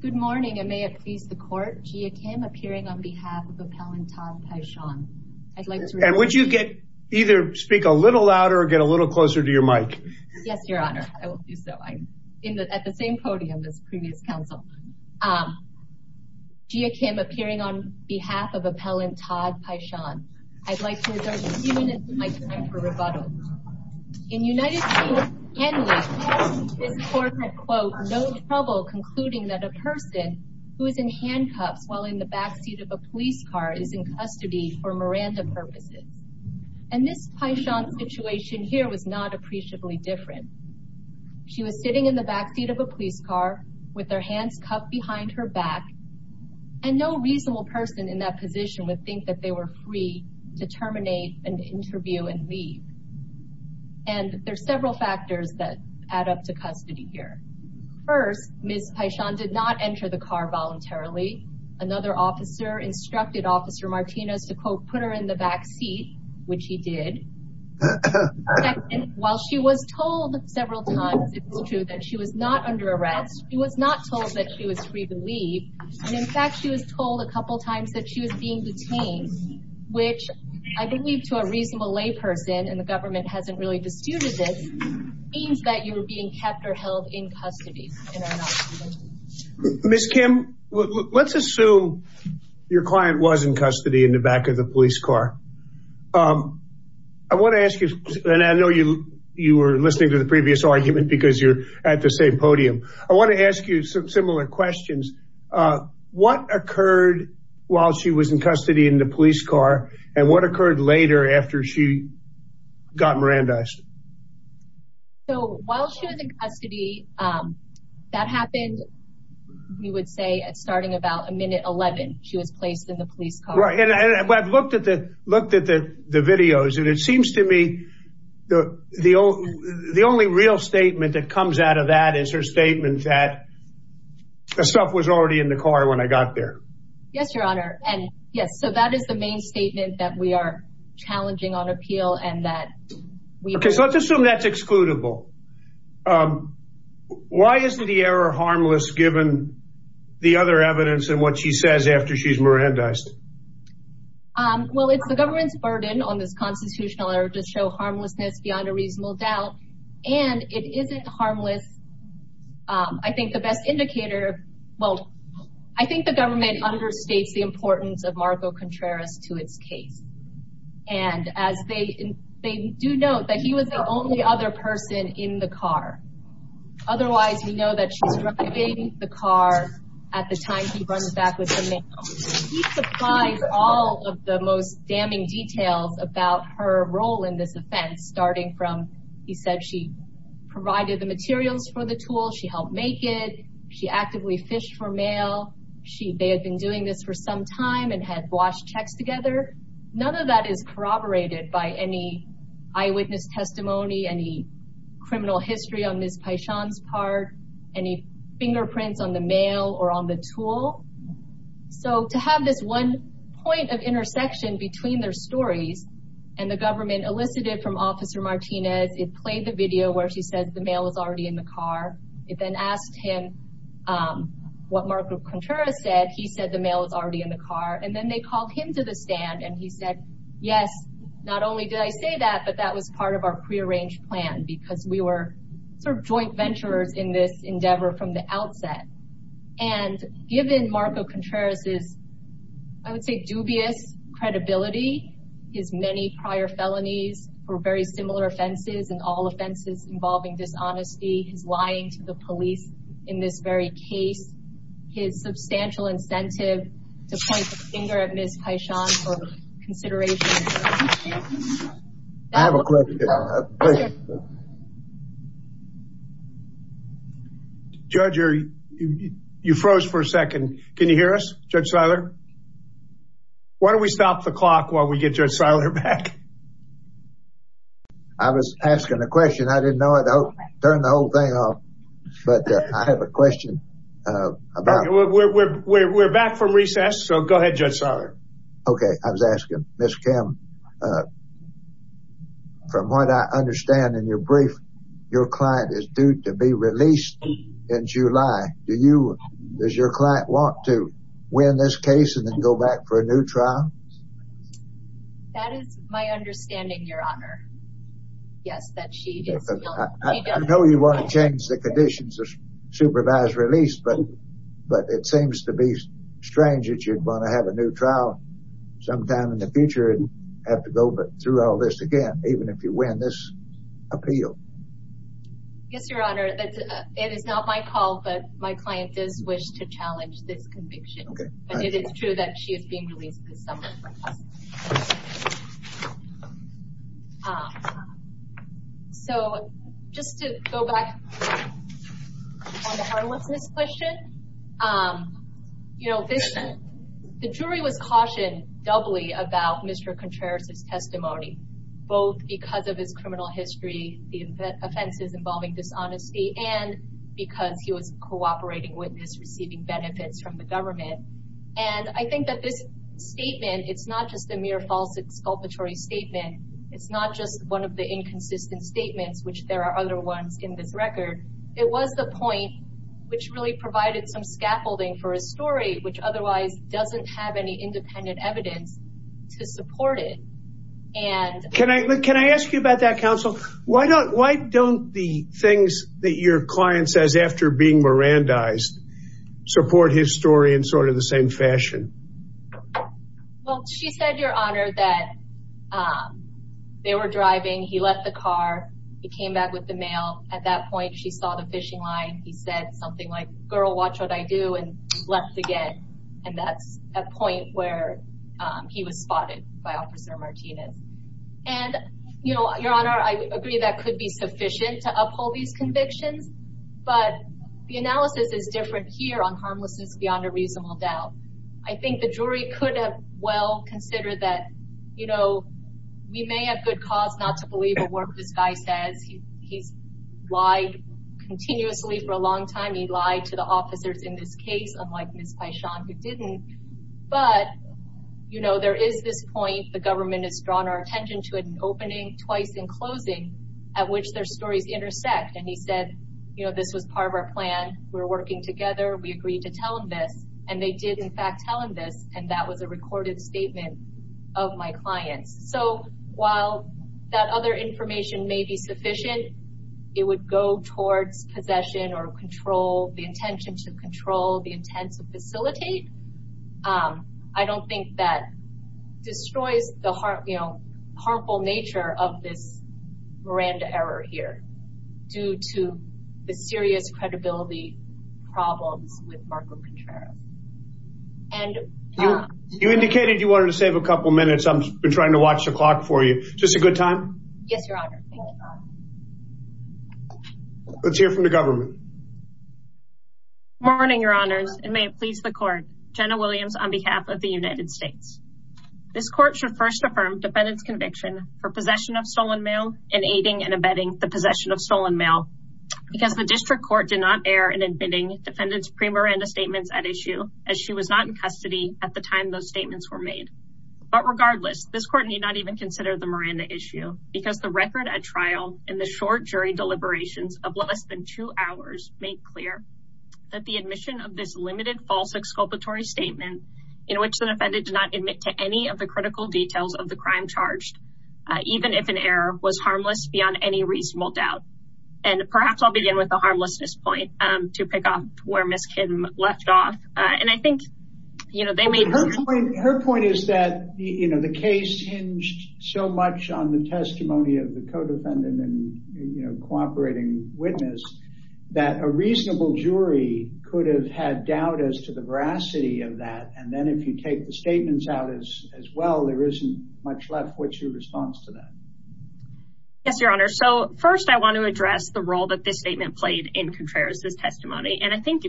Good morning and may it please the court. Gia Kim appearing on behalf of appellant Todd Paishon. And would you get either speak a little louder or get a little closer to your mic? Yes your honor, I will do so. I'm at the same podium as previous counsel. Gia Kim appearing on behalf of appellant Todd Paishon. I'd trouble concluding that a person who is in handcuffs while in the backseat of a police car is in custody for Miranda purposes. And this Paishon's situation here was not appreciably different. She was sitting in the backseat of a police car with their hands cuffed behind her back and no reasonable person in that position would think that they were free to terminate and interview and leave. And there's several factors that add up to custody here. First, Ms. Paishon did not enter the car voluntarily. Another officer instructed officer Martinez to quote put her in the backseat, which he did. While she was told several times it was true that she was not under arrest, she was not told that she was free to leave. And in fact she was told a couple times that she was being detained, which I believe to a reasonable layperson and the government hasn't really disputed this, means that you were being kept or held in custody. Ms. Kim, let's assume your client was in custody in the back of the police car. I want to ask you, and I know you, you were listening to the previous argument because you're at the same podium. I want to ask you some similar questions. What occurred while she was in custody in the police car and what So while she was in custody, that happened, we would say, at starting about a minute 11, she was placed in the police car. Right. And I've looked at the videos and it seems to me the only real statement that comes out of that is her statement that the stuff was already in the car when I got there. Yes, Your Honor. And yes, so that is the main statement that we are challenging on appeal and that we Okay, so let's assume that's excludable. Why isn't the error harmless given the other evidence and what she says after she's Mirandized? Well, it's the government's burden on this constitutional error to show harmlessness beyond a reasonable doubt. And it isn't harmless. I think the best indicator, well, I think the government understates the importance of Marco Contreras to its case. And as they do note that he was the only other person in the car. Otherwise, we know that she's driving the car at the time he runs back with the mail. He supplies all of the most damning details about her role in this offense, starting from he said she provided the materials for the tool. She helped make it. She actively fished for mail. They had been doing this for some time and had washed checks together. None of that is corroborated by any eyewitness testimony, any criminal history on Ms. Paishon's part, any fingerprints on the mail or on the tool. So to have this one point of intersection between their stories and the government elicited from Officer Martinez, it played the video where she says the mail is already in the car. It then asked him what Marco Contreras said. He said the mail is already in the car. And then they called him to the stand and he said, yes, not only did I say that, but that was part of our prearranged plan because we were sort of joint venturers in this endeavor from the outset. And given Marco Contreras' I would say dubious credibility, his many prior felonies for very similar offenses and all offenses involving dishonesty, his lying to the police in this very case, his substantial incentive to point the finger at Ms. Paishon for consideration. I have a question. Judge, you froze for a second. Can you hear us, Judge Seiler? Why don't we stop the clock while we get Judge Seiler back? I was asking a question. I didn't know it. Oh, turn the whole thing off. But I have a question about- We're back from recess. So go ahead, Judge Seiler. Okay. I was asking Ms. Kim, from what I understand in your brief, your client is due to be released in July. Does your client want to win this case and then go back for a new trial? That is my understanding, Your Honor. Yes, that she is- I know you want to change the conditions of supervised release, but it seems to be strange that you're going to have a new trial sometime in the future and have to go through all this again, even if you win this appeal. Yes, Your Honor. It is not my call, but my client does wish to challenge this case. So just to go back on the homelessness question, you know, the jury was cautioned doubly about Mr. Contreras' testimony, both because of his criminal history, the offenses involving dishonesty, and because he was a cooperating witness receiving benefits from the government. And I think that this is not just a mere false exculpatory statement. It's not just one of the inconsistent statements, which there are other ones in this record. It was the point which really provided some scaffolding for his story, which otherwise doesn't have any independent evidence to support it. Can I ask you about that, counsel? Why don't the things that your client says after being Mirandized support his story in sort of the same fashion? Well, she said, Your Honor, that they were driving, he left the car, he came back with the mail. At that point, she saw the fishing line. He said something like, girl, watch what I do, and left again. And that's a point where he was spotted by Officer Martinez. And, you know, Your Honor, I agree that could be sufficient to uphold these convictions. But the analysis is different here on I think the jury could have well considered that, you know, we may have good cause not to believe a word this guy says. He's lied continuously for a long time. He lied to the officers in this case, unlike Ms. Paishon, who didn't. But, you know, there is this point, the government has drawn our attention to an opening twice in closing at which their stories intersect. And he said, you know, this was part of our plan. We're working together. We agreed to tell him this. And they did, in fact, tell him this. And that was a recorded statement of my clients. So while that other information may be sufficient, it would go towards possession or control the intention to control the intent to facilitate. I don't think that destroys the harmful nature of this Miranda error here due to the serious credibility problems with Marco Contreras. And you indicated you wanted to save a couple minutes. I've been trying to watch the clock for you. Just a good time? Yes, Your Honor. Let's hear from the government. Good morning, Your Honors, and may it please the court. Jenna Williams on behalf of the United States. This court should first affirm defendant's conviction for possession of stolen mail and aiding and abetting the possession of stolen mail because the district court did not err in admitting defendant's pre-Miranda statements at issue as she was not in custody at the time those statements were made. But regardless, this court need not even consider the Miranda issue because the record at trial and the short jury deliberations of less than two hours make clear that the admission of this limited false exculpatory statement in which the defendant did not admit to any of the critical details of the crime charged, even if an error was harmless beyond any reasonable doubt. And perhaps I'll begin with the harmlessness point to pick up where Miss Kim left off. And I think, you know, they made her point is that, you know, the case hinged so much on the testimony of the co defendant and, you know, cooperating witness that a reasonable jury could have had doubt as to the veracity of that. And then if you take the statements out is as well, there isn't much left. What's your response to that? Yes, Your Honor. So first, I want to address the role that this statement played in Contreras' testimony. And I think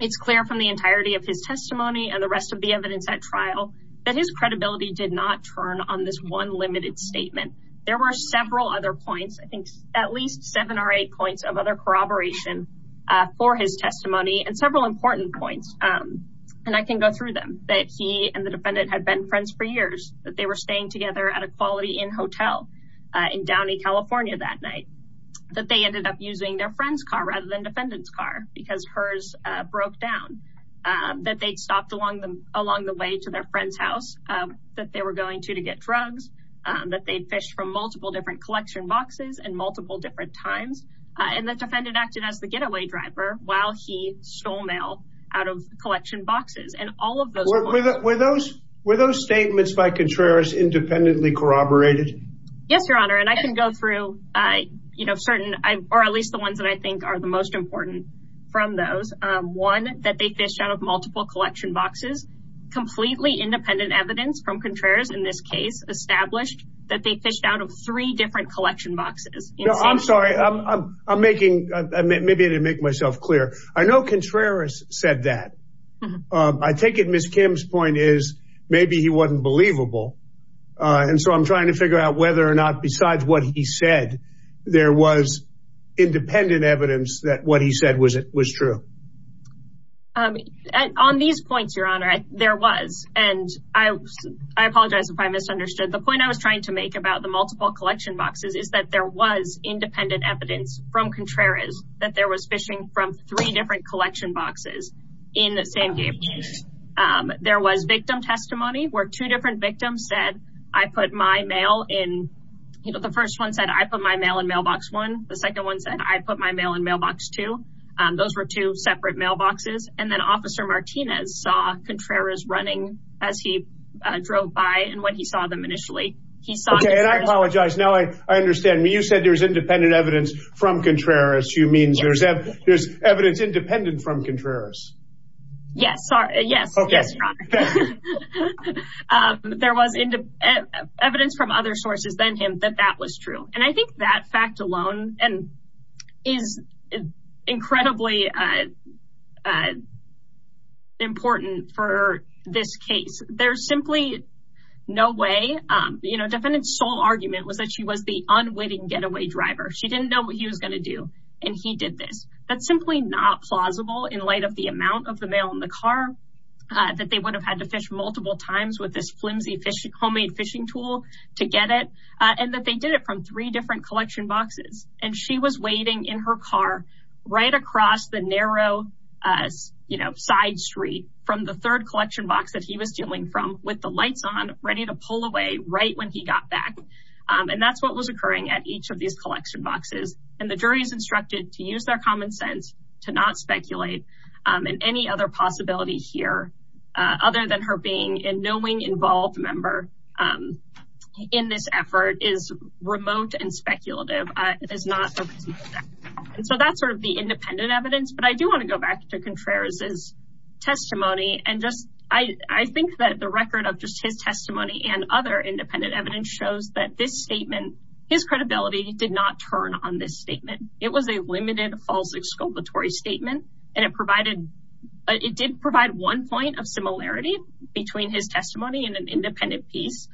it's clear from the entirety of his testimony and the rest of the evidence at trial that his credibility did not turn on this one limited statement. There were several other points, I think at least seven or eight points of other corroboration for his testimony and several important points. And I can go through them, that he and the defendant had been friends for years, that they were staying together at a quality inn hotel in Downey, California that night, that they ended up using their friend's car rather than defendant's car, because hers broke down, that they stopped along the way to their friend's house that they were going to to get drugs, that they'd fished from multiple different collection boxes and multiple different times. And the defendant acted as the getaway driver while he stole mail out of collection boxes. And all of those were those were those statements by Contreras independently corroborated? Yes, at least the ones that I think are the most important from those. One, that they fished out of multiple collection boxes, completely independent evidence from Contreras in this case, established that they fished out of three different collection boxes. I'm sorry, I'm making, maybe I didn't make myself clear. I know Contreras said that. I take it Ms. Kim's point is maybe he wasn't believable. And so I'm trying to figure out whether or not besides what he said, there was independent evidence that what he said was it was true. Um, on these points, Your Honor, there was, and I apologize if I misunderstood. The point I was trying to make about the multiple collection boxes is that there was independent evidence from Contreras that there was fishing from three different collection boxes in the same game. There was victim testimony where two different victims said, I put my mail in, you know, the first one said, I put my mail in mailbox one. The second one said, I put my mail in mailbox two. Um, those were two separate mailboxes. And then Officer Martinez saw Contreras running as he drove by. And when he saw them initially, he saw... Okay, and I apologize. Now I understand. You said there's independent evidence from Contreras. You mean there's evidence independent from Contreras? Yes, sir. Yes. Okay. Yes, Your Honor. Um, there was evidence from other sources than him that that was true. And I think that fact alone is incredibly, uh, important for this case. There's simply no way, um, you know, defendant's sole argument was that she was the unwitting getaway driver. She didn't know what he was going to do. And he did this. That's simply not plausible in light of the amount of the mail in the car that they would have had to fish multiple times with this flimsy homemade fishing tool to get it. And that they did it from three different collection boxes. And she was waiting in her car right across the narrow, uh, you know, side street from the third collection box that he was dealing from with the lights on, ready to pull away right when he got back. Um, and that's what was occurring at each of these collection boxes. And the jury is instructed to use their common sense to not speculate, um, in any other possibility here, uh, other than her being in knowing involved member, um, in this effort is remote and speculative, uh, is not a reasonable fact. And so that's sort of the independent evidence, but I do want to go back to Contreras' testimony. And just, I think that the record of just his testimony and other independent evidence shows that this statement, his credibility did not turn on this statement. It was a limited false exculpatory statement and it provided, it did provide one point of similarity between his testimony and an independent piece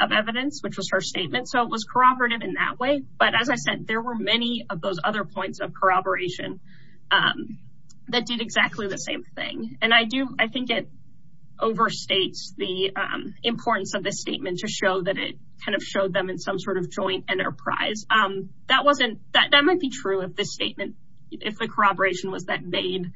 of evidence, which was her statement. So it was corroborative in that way. But as I said, there were many of those other points of corroboration, um, that did exactly the same thing. And I do, I think it overstates the, um, importance of this statement to show that it kind of showed them in some sort of joint enterprise. Um, that wasn't that, that might be true if this statement, if the corroboration was that Bade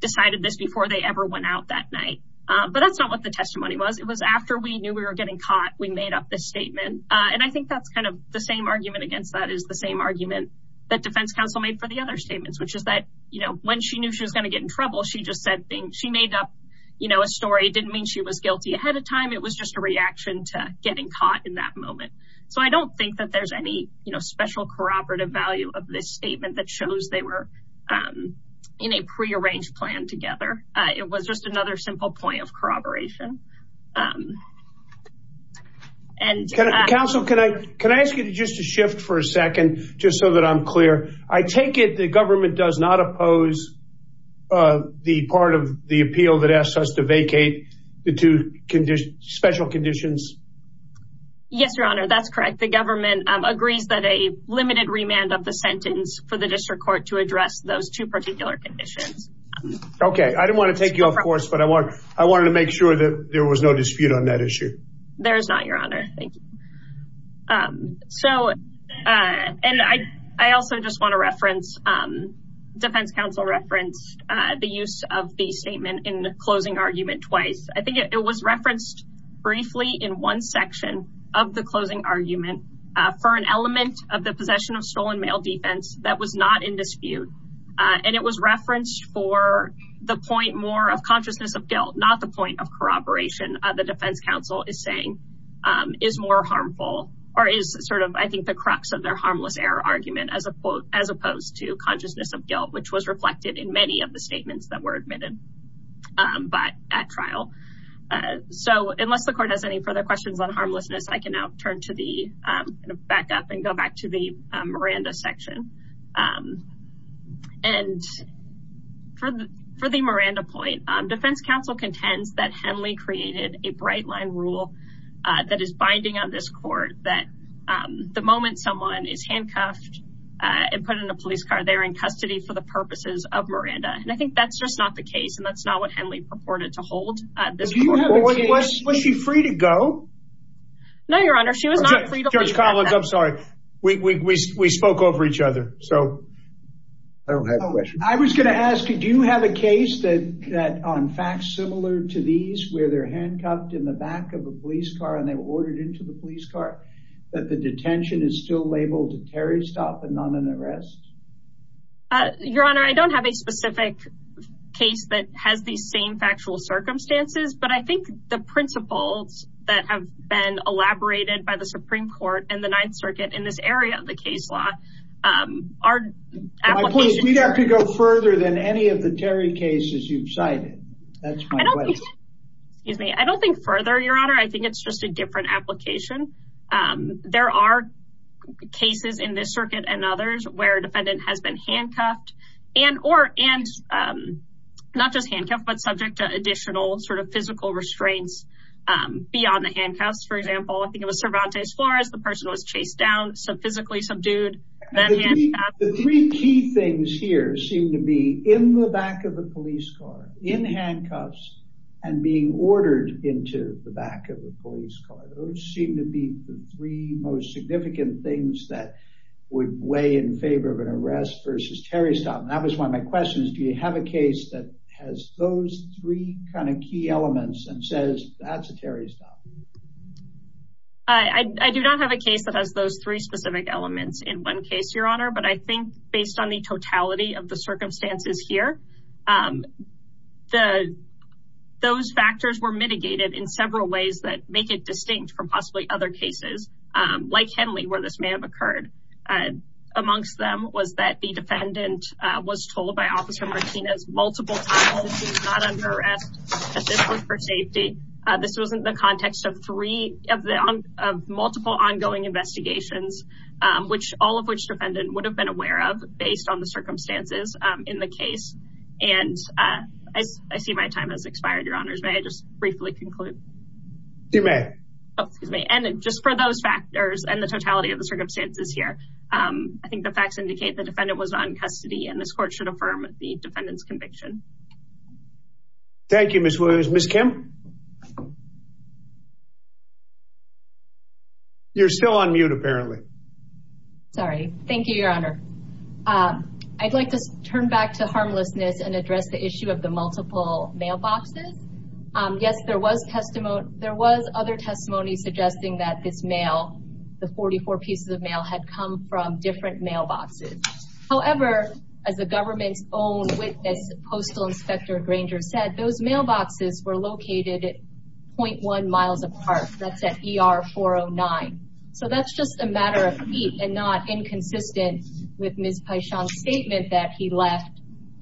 decided this before they ever went out that night. Um, but that's not what the testimony was. It was after we knew we were getting caught, we made up this statement. Uh, and I think that's kind of the same argument against that is the same argument that defense counsel made for the other statements, which is that, you know, when she knew she was going to get in trouble, she just said things, she made up, you know, a story. It didn't mean she was guilty ahead of time. It was just a reaction to getting caught in that moment. So I don't think that there's any special corroborative value of this statement that shows they were, um, in a prearranged plan together. Uh, it was just another simple point of corroboration. Um, and, uh, Counsel, can I, can I ask you to just to shift for a second, just so that I'm clear, I take it the government does not oppose, uh, the part of the appeal that asks us to vacate the two conditions, special conditions? Yes, Your Honor. That's correct. The government agrees that a limited remand of the sentence for the district court to address those two particular conditions. Okay. I didn't want to take you off course, but I want, I wanted to make sure that there was no dispute on that issue. There's not, Your Honor. Thank you. Um, so, uh, and I, I also just want to reference, um, defense counsel referenced, uh, the use of the statement in the closing argument twice. I think it was referenced briefly in one argument, uh, for an element of the possession of stolen mail defense that was not in dispute. Uh, and it was referenced for the point more of consciousness of guilt, not the point of corroboration. Uh, the defense counsel is saying, um, is more harmful or is sort of, I think the crux of their harmless error argument as opposed to consciousness of guilt, which was reflected in many of the statements that were admitted, um, but at trial. Uh, so unless the court has any further questions on harmlessness, I can now turn to the, um, kind of back up and go back to the, um, Miranda section. Um, and for the, for the Miranda point, um, defense counsel contends that Henley created a bright line rule, uh, that is binding on this court that, um, the moment someone is handcuffed, uh, and put in a police car, they're in custody for the purposes of Miranda. And I think that's just not the case. And that's not what Henley purported to hold. Uh, this court would change. Was she free to go? No, Your Honor. She was not free to go. Judge Collins, I'm sorry. We, we, we, we spoke over each other. So I don't have a question. I was going to ask you, do you have a case that, that on facts similar to these, where they're handcuffed in the back of a police car and they were ordered into the police car, that the detention is still labeled a Terry stop and not an arrest? Uh, Your Honor, I don't have a specific case that has these same factual circumstances. But I think the principles that have been elaborated by the Supreme Court and the Ninth Circuit in this area of the case law, um, are... We'd have to go further than any of the Terry cases you've cited. That's my question. Excuse me. I don't think further, Your Honor. I think it's just a different application. Um, there are cases in this circuit and others where a defendant has been handcuffed and, or, and, um, not just handcuffed, but subject to additional sort of physical restraints, um, beyond the handcuffs, for example. I think it was Cervantes Flores. The person was chased down. So physically subdued. The three key things here seem to be in the back of the police car, in handcuffs, and being ordered into the back of the police car. Those seem to be the three most significant things that would weigh in favor of an arrest versus Terry stop. And that was one of my questions. Do you have a case that has those three kind of key elements and says that's a Terry stop? I do not have a case that has those three specific elements in one case, Your Honor, but I think based on the totality of the circumstances here, um, the, those factors were mitigated in several ways that make it distinct from possibly other cases, um, like Henley, where this may have occurred. Uh, amongst them was that the defendant, uh, was told by officer Martinez multiple times that he was not under arrest as this was for safety. Uh, this wasn't the context of three of the, of multiple ongoing investigations, um, which all of which defendant would have been aware of based on the circumstances, um, in the case. And, uh, I see my time has expired, Your Honors. May I just briefly conclude? You may. Oh, excuse me. And just for those factors and the totality of the circumstances here, um, I think the facts indicate the defendant was on custody and this court should affirm the defendant's conviction. Thank you, Ms. Williams. Ms. Kim? You're still on mute apparently. Sorry. Thank you, Your Honor. Um, I'd like to turn back to harmlessness and address the issue of the multiple mailboxes. Um, yes, there was testimony. There was other testimony suggesting that this mail, the 44 pieces of mail had come from different mailboxes. However, as the government's own witness, postal inspector Granger said, those mailboxes were located at 0.1 miles apart. That's at ER 409. So that's just a matter of feet and not inconsistent with Ms. Pyshon's statement that he left,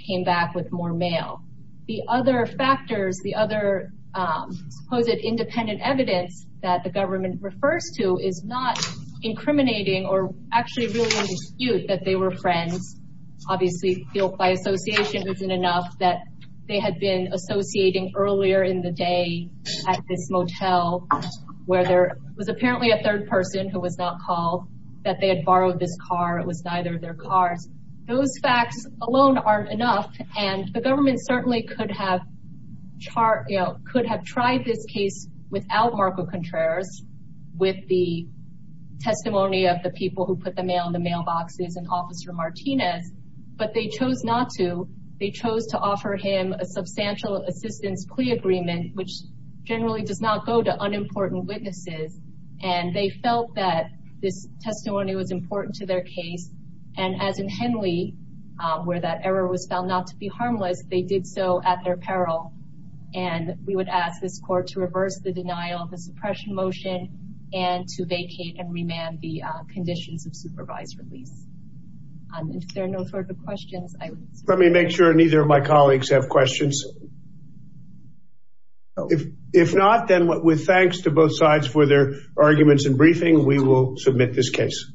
came back with more mail. The other factors, the other, um, supposed independent evidence that the government refers to is not incriminating or actually really in dispute that they were friends. Obviously, by association, it wasn't enough that they had been associating earlier in the day at this motel where there was apparently a third person who was not called, that they had borrowed this car. It was neither of their cars. Those facts alone aren't enough. And the government certainly could have chart, you know, could have tried this case without Marco Contreras with the testimony of the people who put the mail in the mailboxes and officer Martinez, but they chose not to, they chose to offer him a substantial assistance plea agreement, which generally does not go to unimportant witnesses. And they felt that this testimony was important to their case. And as in Henley, where that error was found not to be harmless, they did so at their peril. And we would ask this court to reverse the denial of the suppression motion and to vacate and remand the conditions of supervised release. And if there are no further questions- Let me make sure neither of my colleagues have questions. If not, then with thanks to both sides for their arguments and briefing, we will submit this case.